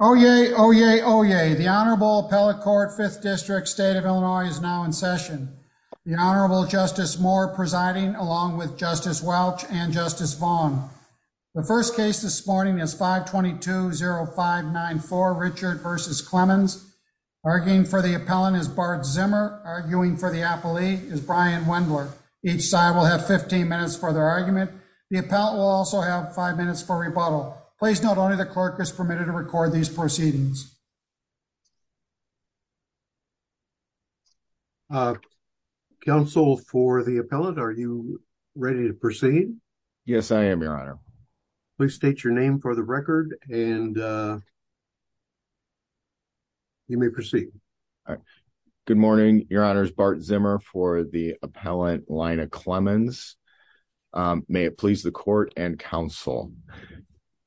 Oyez, oyez, oyez. The Honorable Appellate Court, 5th District, State of Illinois is now in session. The Honorable Justice Moore presiding along with Justice Welch and Justice Vaughn. The first case this morning is 522-0594, Richard v. Clemens. Arguing for the appellant is Bart Zimmer. Arguing for the appellee is Brian Wendler. Each side will have 15 minutes for their argument. The appellant will also have five minutes for rebuttal. Please note only the clerk is permitted to record these proceedings. Counsel for the appellant, are you ready to proceed? Yes, I am, Your Honor. Please state your name for the record and you may proceed. Good morning, Your Honors. Bart Zimmer for the appellant, Lina Clemens. May it please the court and counsel.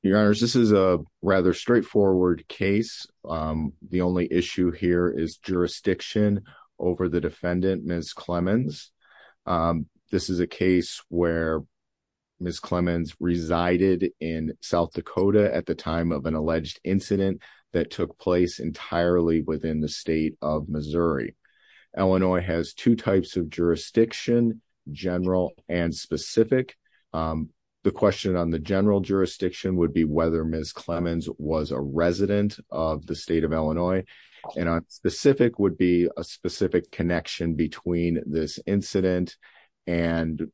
Your Honors, this is a rather straightforward case. The only issue here is jurisdiction over the defendant, Ms. Clemens. This is a case where Ms. Clemens resided in South Dakota at the time of an alleged incident that took place entirely within the state of Missouri. Illinois has two types of jurisdiction, general and specific. The question on the general jurisdiction would be whether Ms. Clemens was a resident of the state of Illinois, and on specific would be a specific connection between this incident and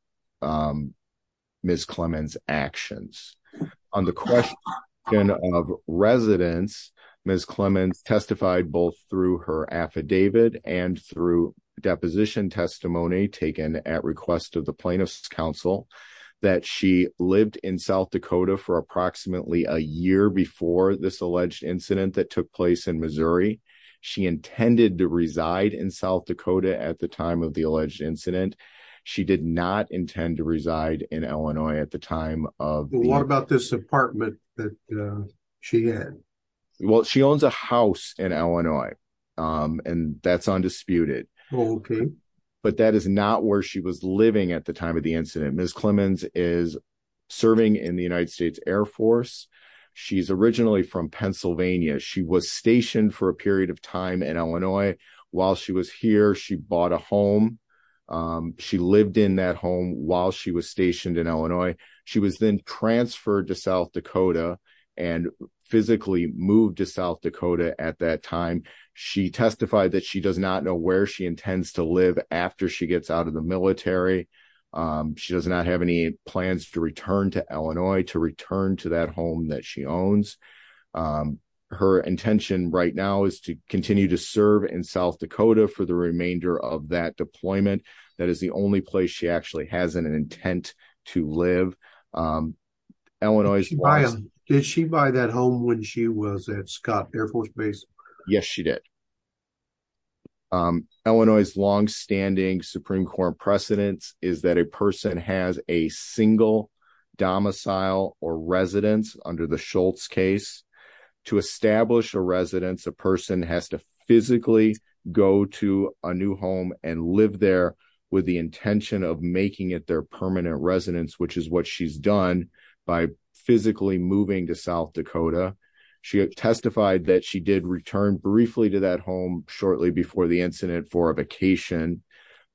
Ms. Clemens' actions. On the question of residence, Ms. Clemens testified both through her affidavit and through deposition testimony taken at request of the plaintiff's counsel that she lived in South Dakota for approximately a year before this alleged incident that took place in Missouri. She intended to reside in South Dakota at the time of the alleged incident. She did not intend to reside in Illinois at the time of the- What about this apartment that she had? Well, she owns a house in Illinois, and that's undisputed. But that is not where she was living at the time of the incident. Ms. Clemens is serving in the United States Air Force. She's originally from Pennsylvania. She was stationed for a period of time in Illinois. While she was here, she bought a home she lived in that home while she was stationed in Illinois. She was then transferred to South Dakota and physically moved to South Dakota at that time. She testified that she does not know where she intends to live after she gets out of the military. She does not have any plans to return to Illinois to return to that home that she owns. Her intention right now is to continue to serve in South Dakota for the remainder of that deployment. That is the only place she actually has an intent to live. Did she buy that home when she was at Scott Air Force Base? Yes, she did. Illinois' longstanding Supreme Court precedence is that a person has a single domicile or residence under the Schultz case. To establish a residence, a person has to physically go to a new home and live there with the intention of making it their permanent residence, which is what she's done by physically moving to South Dakota. She testified that she did return briefly to that home shortly before the incident for a vacation,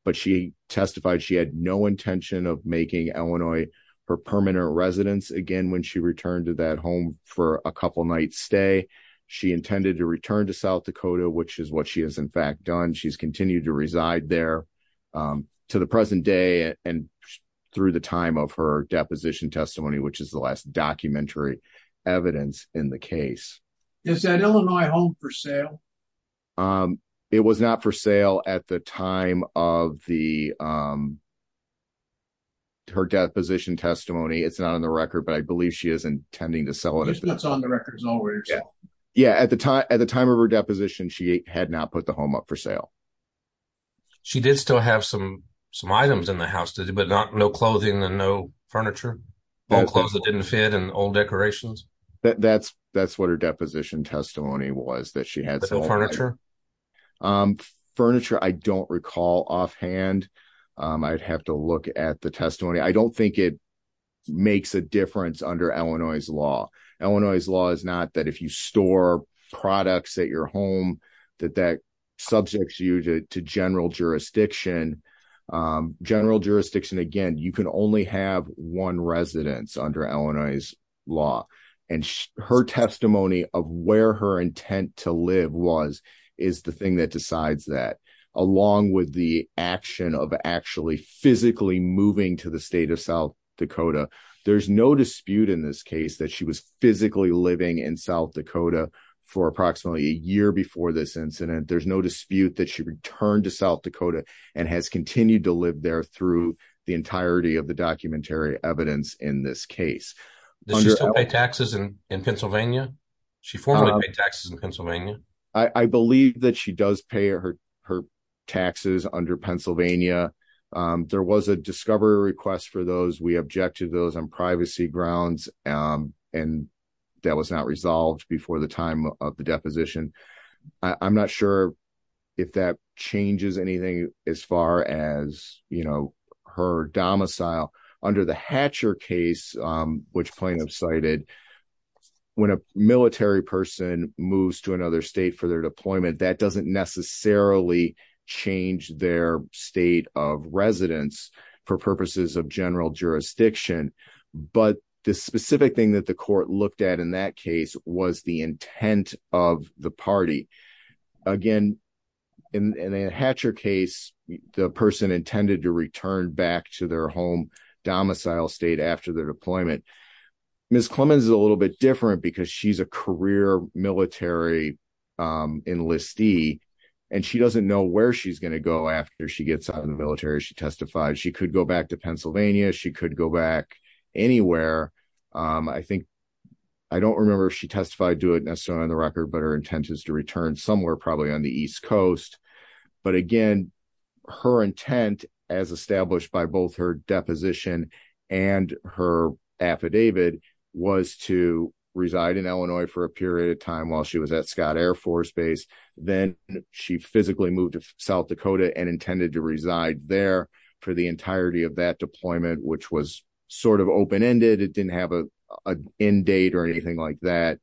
but she testified she had no intention of making Illinois her permanent residence again when she returned to home for a couple night stay. She intended to return to South Dakota, which is what she has in fact done. She's continued to reside there to the present day and through the time of her deposition testimony, which is the last documentary evidence in the case. Is that Illinois home for sale? It was not for sale at the time of her deposition testimony. It's not on the record, but I believe she is intending to sell it. At the time of her deposition, she had not put the home up for sale. She did still have some items in the house, but no clothing and no furniture? Old clothes that didn't fit and old decorations? That's what her deposition testimony was. Furniture, I don't recall offhand. I'd have to look at the testimony. I don't think it makes a difference under Illinois' law. Illinois' law is not that if you store products at your home, that that subjects you to general jurisdiction. General jurisdiction, again, you can only have one residence under Illinois' law. Her testimony of where her intent to live was is the thing that decides that, along with the action of actually physically moving to the state of South Dakota, there's no dispute in this case that she was physically living in South Dakota for approximately a year before this incident. There's no dispute that she returned to South Dakota and has continued to live there through the entirety of the documentary evidence in this case. Does she still pay taxes in Pennsylvania? She formerly paid taxes in Pennsylvania? I believe that she does pay her taxes under Pennsylvania. There was a discovery request for those. We objected to those on privacy grounds. That was not resolved before the time of the deposition. I'm not sure if that changes anything as far as her domicile. Under the Hatcher case, which plaintiffs cited, when a military person moves to another state for their deployment, that doesn't necessarily change their state of residence for purposes of general jurisdiction, but the specific thing that the court looked at in that case was the intent of the party. Again, in the Hatcher case, the person intended to return back to their home domicile state after their deployment. Ms. Clemons is a little bit different because she's a career military enlistee, and she doesn't know where she's going to go after she gets out of the She could go back anywhere. I don't remember if she testified to it necessarily on the record, but her intent is to return somewhere, probably on the East Coast. Again, her intent, as established by both her deposition and her affidavit, was to reside in Illinois for a period of time while she was at Scott Air Force Base. Then she physically moved to South Dakota and which was sort of open-ended. It didn't have an end date or anything like that.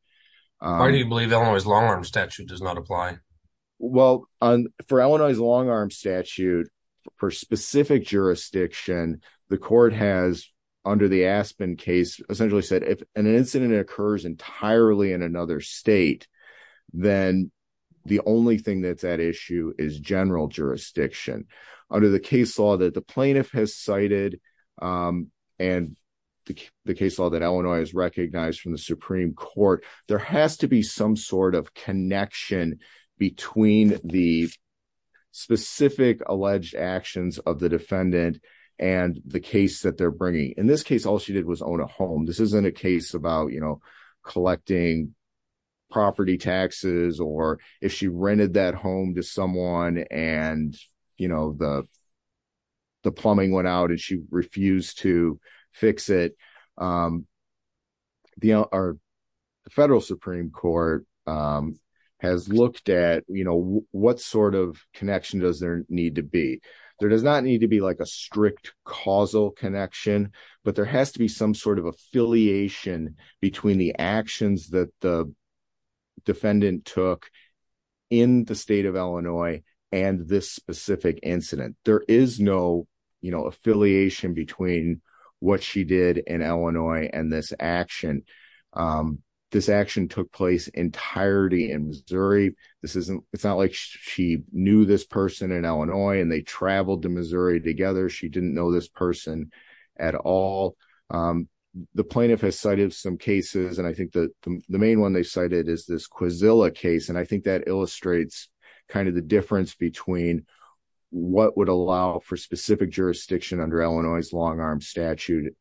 Why do you believe Illinois' long-arm statute does not apply? Well, for Illinois' long-arm statute, for specific jurisdiction, the court has, under the Aspen case, essentially said if an incident occurs entirely in another state, then the only thing that's at issue is general jurisdiction. Under the case law that the and the case law that Illinois has recognized from the Supreme Court, there has to be some sort of connection between the specific alleged actions of the defendant and the case that they're bringing. In this case, all she did was own a home. This isn't a case about collecting property taxes or if she rented that home to someone and the plumbing went out and she refused to fix it. The federal Supreme Court has looked at what sort of connection does there need to be. There does not need to be a strict causal connection, but there has to be some sort of affiliation between the actions that the defendant took in the state of Illinois and this specific incident. There is no affiliation between what she did in Illinois and this action. This action took place entirely in Missouri. It's not like she knew this person in Illinois and they traveled to Missouri together. She didn't know this person at all. The plaintiff has cited some cases, and I think the main one they cited is this Quisilla case, and I think that between what would allow for specific jurisdiction under Illinois' long-arm statute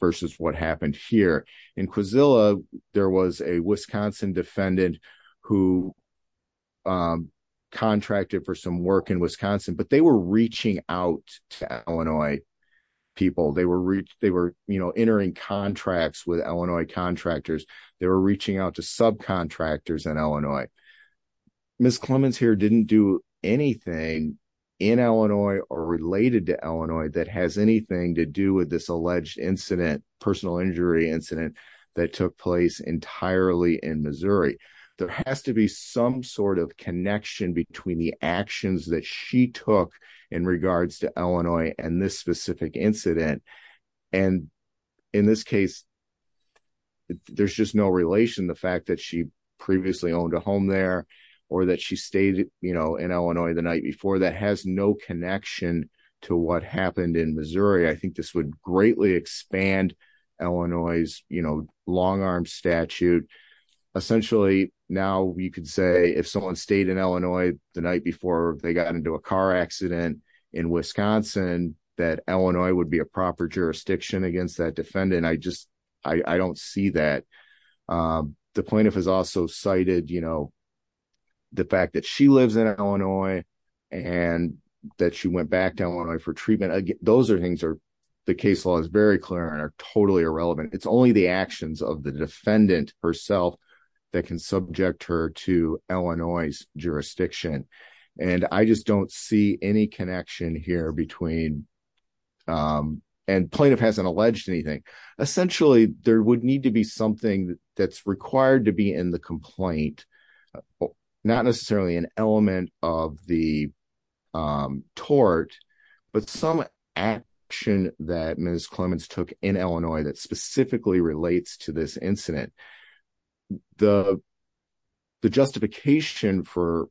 versus what happened here. In Quisilla, there was a Wisconsin defendant who contracted for some work in Wisconsin, but they were reaching out to Illinois people. They were entering contracts with Illinois contractors. They were reaching out to subcontractors in Illinois. Ms. Clemons here didn't do anything in Illinois or related to Illinois that has anything to do with this alleged incident, personal injury incident, that took place entirely in Missouri. There has to be some sort of connection between the actions that she took in regards to Illinois and this specific incident. In this case, there's just no relation. The fact that she previously owned a home there or that she stayed in Illinois the night before, that has no connection to what happened in Missouri. I think this would greatly expand Illinois' long-arm statute. Essentially, now, you could say if someone stayed in Illinois the night before they got into a car accident in Wisconsin, that Illinois would be a proper jurisdiction against that defendant. I don't see that. The plaintiff has also cited the fact that she lives in Illinois and that she went back to Illinois for treatment. The case law is very clear and totally irrelevant. It's only the actions of the defendant herself that can subject her to Essentially, there would need to be something that's required to be in the complaint. Not necessarily an element of the tort, but some action that Ms. Clemons took in Illinois that specifically relates to this incident. The justification for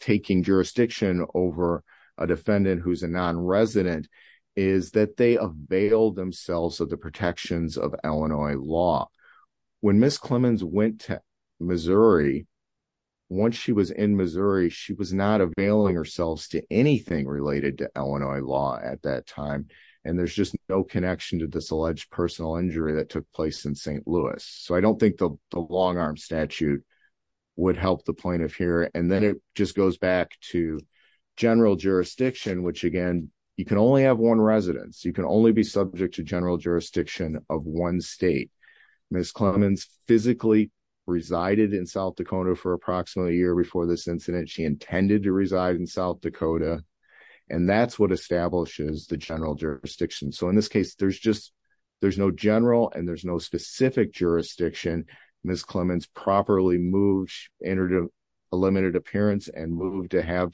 taking jurisdiction over a defendant who's a non-resident is that they avail themselves of the protections of Illinois law. When Ms. Clemons went to Missouri, once she was in Missouri, she was not availing herself to anything related to Illinois law at that time. There's just no connection to this alleged personal injury that took place in St. Louis. I don't think the long-arm statute would help the plaintiff here. Then it just goes back to general jurisdiction, which again, you can only have one residence. You can only be subject to general jurisdiction of one state. Ms. Clemons physically resided in South Dakota for approximately a year before this incident. She intended to reside in South Dakota. That's what establishes the general jurisdiction. In this case, there's no general and there's no specific jurisdiction. Ms. Clemons properly moved. She entered a limited appearance and moved to have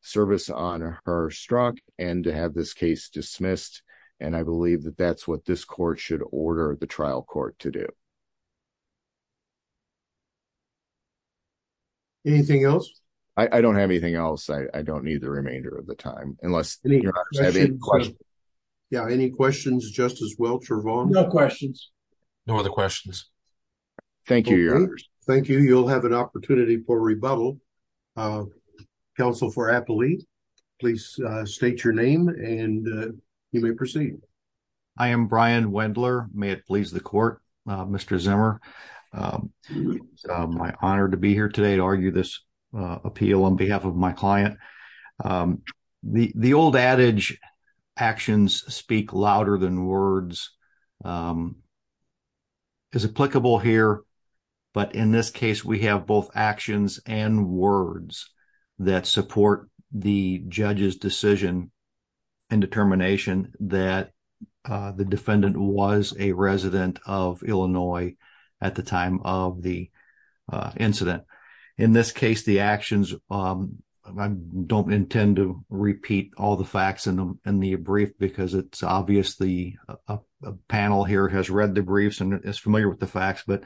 service on her struck and to have this case dismissed. I believe that that's what this court should order the trial court to do. Anything else? I don't have anything else. I don't need the remainder of the time. Any questions, Justice Welch or Vaughn? No questions. No other questions. Thank you. Thank you. You'll have an opportunity for rebuttal. Counsel for Appolite, please state your name and you may proceed. I am Brian Wendler. May it please the court, Mr. Zimmer. It's my honor to be here today to argue this appeal on behalf of my client. The old adage, actions speak louder than words, is applicable here. But in this case, we have both actions and words that support the judge's decision and determination that the defendant was a resident of Illinois at the time of the actions. I don't intend to repeat all the facts in the brief because it's obvious the panel here has read the briefs and is familiar with the facts. But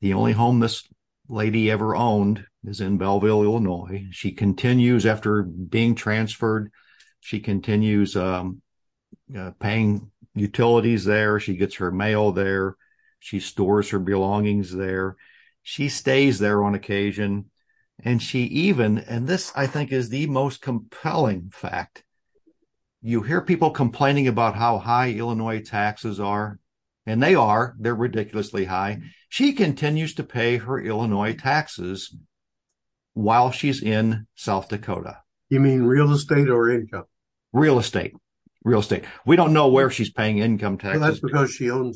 the only home this lady ever owned is in Belleville, Illinois. She continues after being transferred. She continues paying utilities there. She gets her mail there. She stores her belongings there. She stays there on occasion. And she even, and this I think is the most compelling fact, you hear people complaining about how high Illinois taxes are, and they are, they're ridiculously high. She continues to pay her Illinois taxes while she's in South Dakota. You mean real estate or income? Real estate. Real estate. We don't know where she's paying income taxes. That's because she to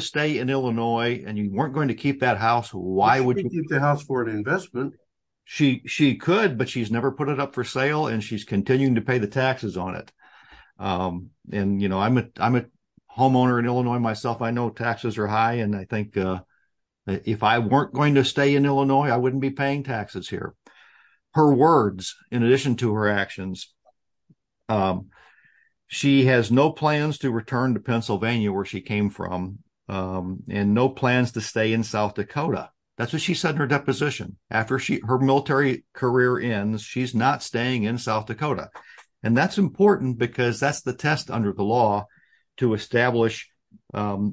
stay in Illinois and you weren't going to keep that house. Why would you keep the house for an investment? She could, but she's never put it up for sale and she's continuing to pay the taxes on it. And you know, I'm a homeowner in Illinois myself. I know taxes are high. And I think if I weren't going to stay in Illinois, I wouldn't be paying taxes here. Her words, in addition to her actions, she has no plans to return to Pennsylvania where she came from. And no plans to stay in South Dakota. That's what she said in her deposition. After her military career ends, she's not staying in South Dakota. And that's important because that's the test under the law to establish a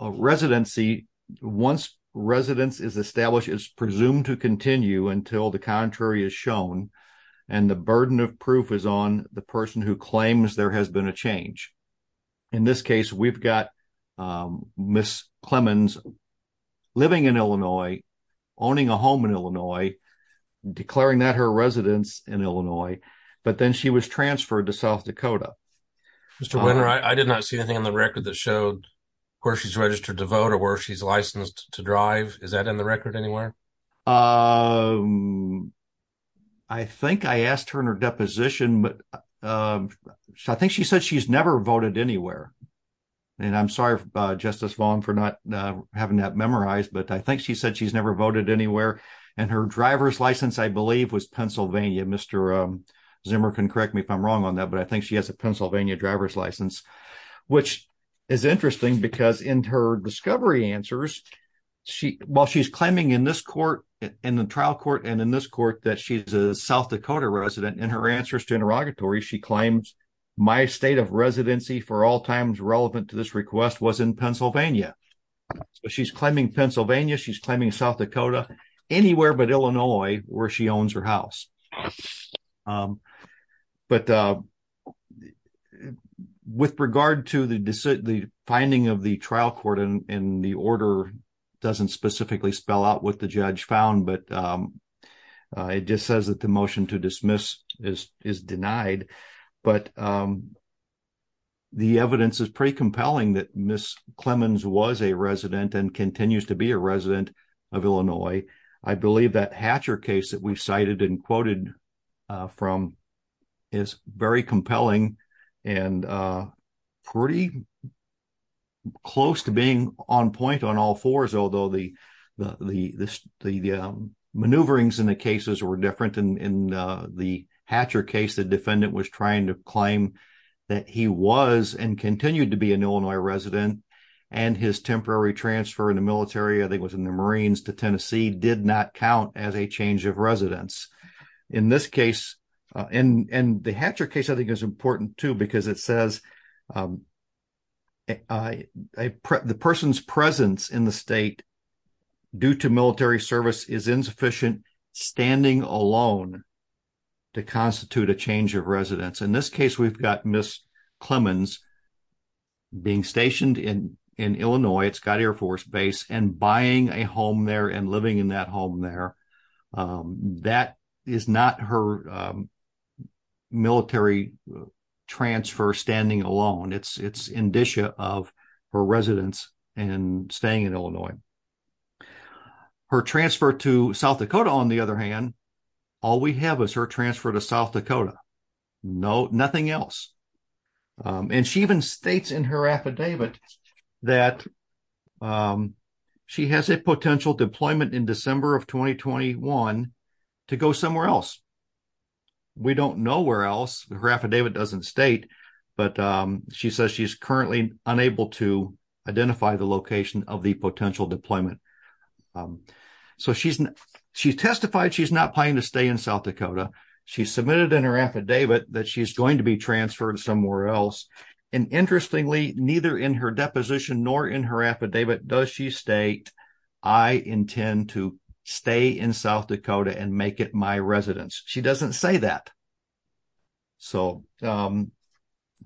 residency. Once residence is established, it's presumed to continue until the contrary is shown. And the burden of proof is on the person who claims there has been a change. In this case, we've got Ms. Clemons living in Illinois, owning a home in Illinois, declaring that her residence in Illinois, but then she was transferred to South Dakota. Mr. Winner, I did not see anything on the record that showed where she's registered to vote or where she's licensed to drive. Is that in the record anywhere? Um, I think I asked her in her deposition, but I think she said she's never voted anywhere. And I'm sorry, Justice Vaughn for not having that memorized. But I think she said she's never voted anywhere. And her driver's license, I believe was Pennsylvania. Mr. Zimmer can correct me if I'm wrong on that. But I think she has a Pennsylvania driver's license, which is interesting because in her discovery answers, she while she's claiming in this court, in the trial court, and in this court that she's a South Dakota resident in her answers to interrogatory, she claims my state of residency for all times relevant to this request was in Pennsylvania. She's claiming Pennsylvania, she's claiming South Dakota, anywhere but Illinois, where she owns her house. But with regard to the decision, the finding of the trial court in the order doesn't specifically spell out what the judge found. But it just says that the motion to dismiss is is denied. But the evidence is pretty compelling that Miss Clemens was a resident and believe that Hatcher case that we've cited and quoted from is very compelling, and pretty close to being on point on all fours, although the maneuverings in the cases were different. And in the Hatcher case, the defendant was trying to claim that he was and continued to be an Illinois resident. And his temporary transfer in the military, I think was in the Marines to as a change of residence. In this case, and the Hatcher case, I think is important too, because it says the person's presence in the state, due to military service is insufficient, standing alone to constitute a change of residence. In this case, we've got Miss Clemens being stationed in Illinois, it's got Air Force Base and buying a home there and living in that there. That is not her military transfer standing alone. It's it's indicia of her residence and staying in Illinois. Her transfer to South Dakota, on the other hand, all we have is her transfer to South Dakota. No, nothing else. And she even states in her affidavit that she has a potential deployment in December of 2021 to go somewhere else. We don't know where else her affidavit doesn't state. But she says she's currently unable to identify the location of the potential deployment. So she's, she testified she's not planning to stay in South Dakota. She submitted in her affidavit that she's going to be transferred somewhere else. And interestingly, neither in her to stay in South Dakota and make it my residence. She doesn't say that. So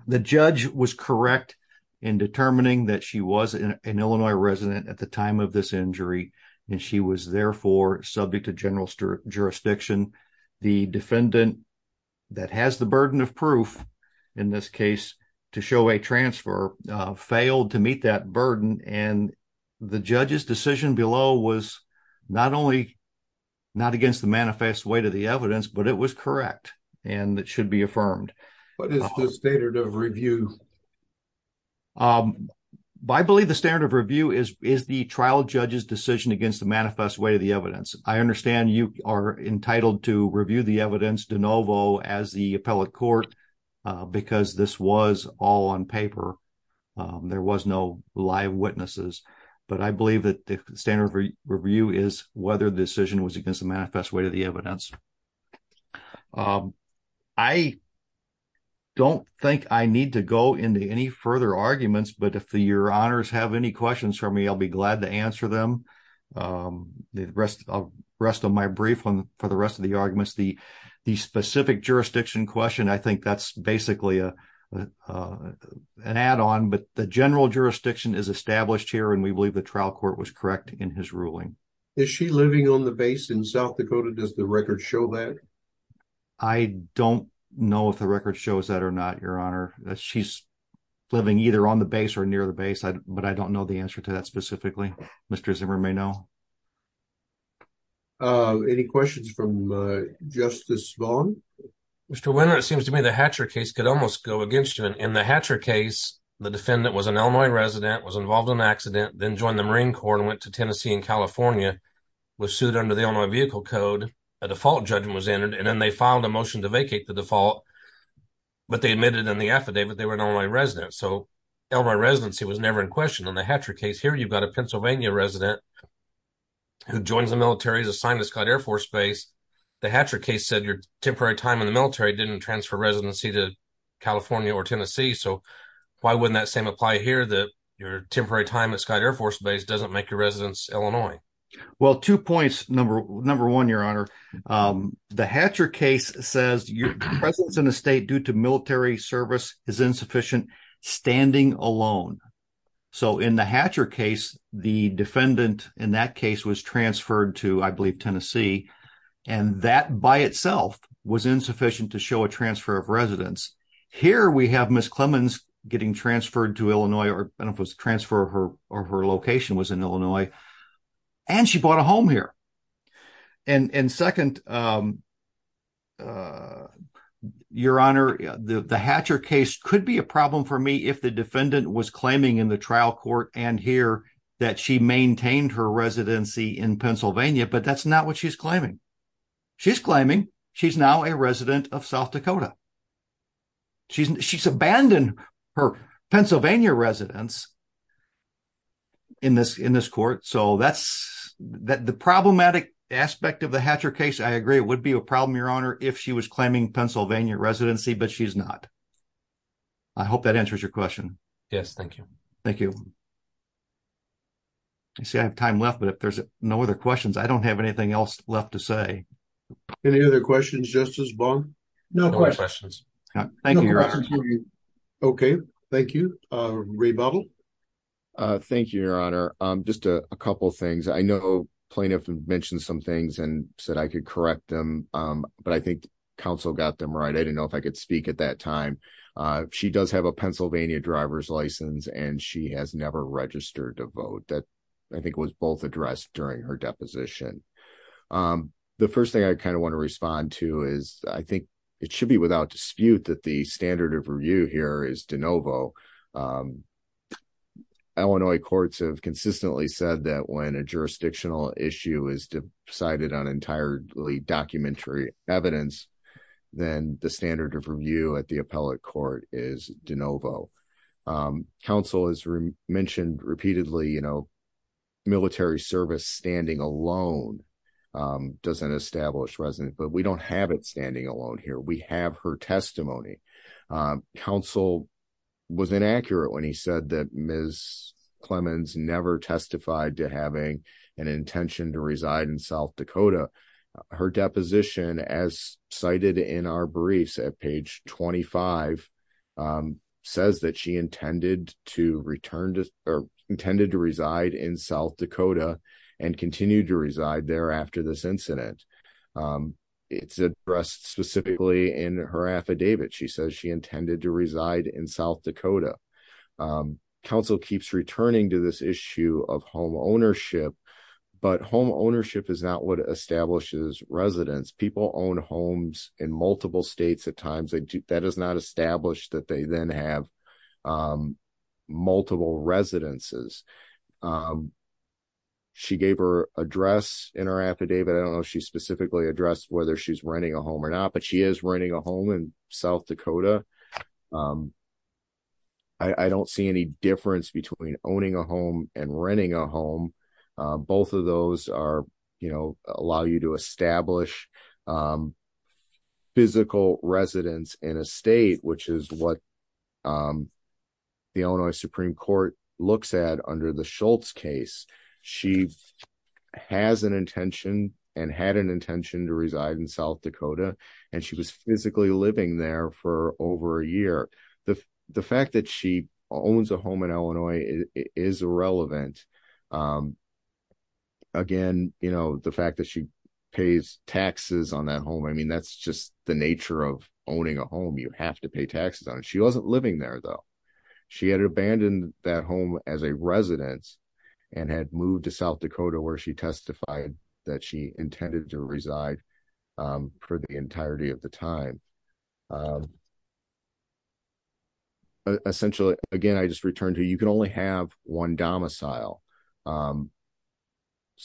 the judge was correct in determining that she was an Illinois resident at the time of this injury. And she was therefore subject to general jurisdiction. The defendant that has the burden of proof, in this case, to show a transfer failed to meet that burden. And the judge's decision below was not only not against the manifest way to the evidence, but it was correct. And that should be affirmed. But it's the standard of review. I believe the standard of review is is the trial judge's decision against the manifest way of the evidence. I understand you are entitled to review the evidence de novo as the appellate court, because this was all on paper. There was no live witnesses. But I believe that the standard of review is whether the decision was against the manifest way to the evidence. I don't think I need to go into any further arguments. But if your honors have any questions for me, I'll be glad to answer them. The rest of the rest of my brief on for the rest of the the specific jurisdiction question, I think that's basically an add on. But the general jurisdiction is established here. And we believe the trial court was correct in his ruling. Is she living on the base in South Dakota? Does the record show that? I don't know if the record shows that or not, Your Honor. She's living either on the base or near the base. But I don't know the answer to that specifically. Mr. Zimmer may know. Any questions from Justice Vaughn? Mr. Weiner, it seems to me the Hatcher case could almost go against you. In the Hatcher case, the defendant was an Illinois resident, was involved in an accident, then joined the Marine Corps and went to Tennessee and California, was sued under the Illinois vehicle code, a default judgment was entered, and then they filed a motion to vacate the default. But they admitted in the affidavit, they were an Illinois resident. So Illinois residency was never in question. On the Hatcher case here, you've got a Pennsylvania resident who joins the military, is assigned to Scott Air Force Base. The Hatcher case said your temporary time in the military didn't transfer residency to California or Tennessee. So why wouldn't that same apply here that your temporary time at Scott Air Force Base doesn't make your residence Illinois? Well, two points. Number one, Your Honor, the Hatcher case says your presence in the state due to military service is insufficient, standing alone. So in the Hatcher case, the defendant in that case was transferred to, I believe, Tennessee, and that by itself was insufficient to show a transfer of residence. Here we have Ms. Clemmons getting transferred to Illinois, or I don't know if it was a transfer or her location was in Illinois, and she bought a home here. And second, Your Honor, the Hatcher case could be a problem for me if the defendant was claiming in the trial court and here that she maintained her residency in Pennsylvania, but that's not what she's claiming. She's claiming she's now a resident of South Dakota. She's abandoned her Pennsylvania residence in this court. So the problematic aspect of the Hatcher case, I agree, would be a problem, Your Honor, if she was claiming Pennsylvania residency, but she's not. I hope that answers your question. Yes, thank you. Thank you. You see, I have time left, but if there's no other questions, I don't have anything else left to say. Any other questions, Justice Baum? No questions. Thank you, Your Honor. Okay, thank you. Ray Bauble? Thank you, Your Honor. Just a couple of things. I know plaintiff mentioned some things and said I could correct them, but I think counsel got them right. I didn't know if I could speak at that time. She does have a Pennsylvania driver's license, and she has never registered to vote. I think it was both addressed during her deposition. The first thing I want to respond to is I think it should be without dispute that the standard of review here is de novo. Illinois courts have consistently said that when a jurisdictional issue is decided on entirely documentary evidence, then the standard of review at the appellate court is de novo. Counsel has mentioned repeatedly military service standing alone doesn't establish resonance, but we don't have it standing alone here. We have her testimony. Counsel was inaccurate when he said that Ms. Clemons never testified to having an intention to reside in South Dakota. Her deposition, as cited in our briefs at page 25, says that she intended to return or intended to reside in South Dakota and continue to reside there after this incident. It's addressed specifically in her affidavit. She says she intended to reside in South Dakota. Counsel keeps returning to this issue of home ownership, but home ownership is not what establishes residence. People own homes in multiple states at times. That is not established that they then have multiple residences. She gave her address in her affidavit. I don't know if she specifically addressed whether she's renting a home or not, but she is renting a home in South Dakota. I don't see any difference between owning a home and renting a home. Both of those allow you to establish physical residence in a state, which is what the Illinois Supreme Court looks at under the Schultz case. She has an intention and had an intention to reside in South Dakota, and she was a year. The fact that she owns a home in Illinois is irrelevant. Again, the fact that she pays taxes on that home, that's just the nature of owning a home. You have to pay taxes on it. She wasn't living there, though. She had abandoned that home as a residence and had moved to South Dakota, where she testified that she intended to reside for the entirety of the time. Essentially, again, I just returned to you can only have one domicile.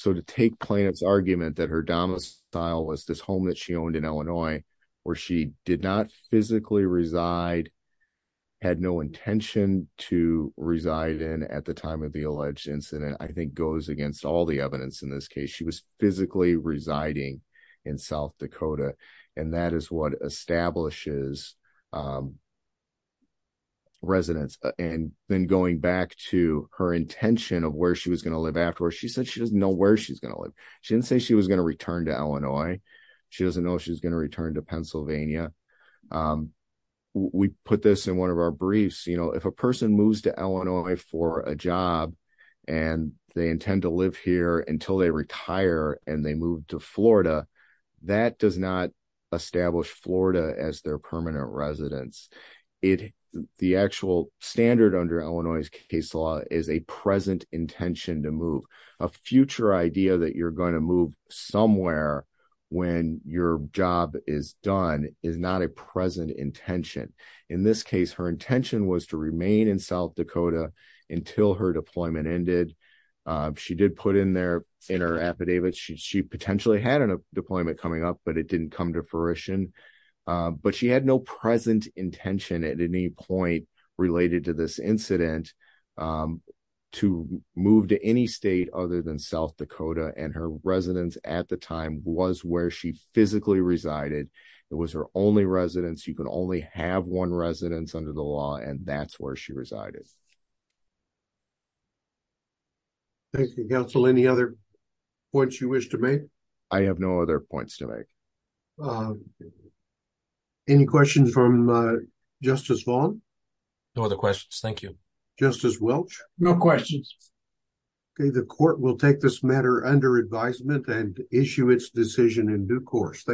To take plaintiff's argument that her domicile was this home that she owned in Illinois, where she did not physically reside, had no intention to reside in at the time of the alleged incident, I think goes against all the evidence in this case. She was physically residing in South Dakota, and that is what she did. Then going back to her intention of where she was going to live afterwards, she said she doesn't know where she's going to live. She didn't say she was going to return to Illinois. She doesn't know if she's going to return to Pennsylvania. We put this in one of our briefs. If a person moves to Illinois for a job, and they intend to live here until they retire and they move to Florida, that does not establish Florida as their permanent residence. It, the actual standard under Illinois case law is a present intention to move. A future idea that you're going to move somewhere when your job is done is not a present intention. In this case, her intention was to remain in South Dakota until her deployment ended. She did put in there, in her affidavit, she potentially had a deployment coming up, but it didn't come to fruition. But she had no present intention at any point related to this incident to move to any state other than South Dakota. Her residence at the time was where she physically resided. It was her only residence. You could only have one residence under the law, and that's where she resided. Thank you, counsel. Any other points you wish to make? I have no other points to make. Any questions from Justice Vaughn? No other questions. Thank you. Justice Welch? No questions. Okay, the court will take this matter under advisement and issue its decision in due course.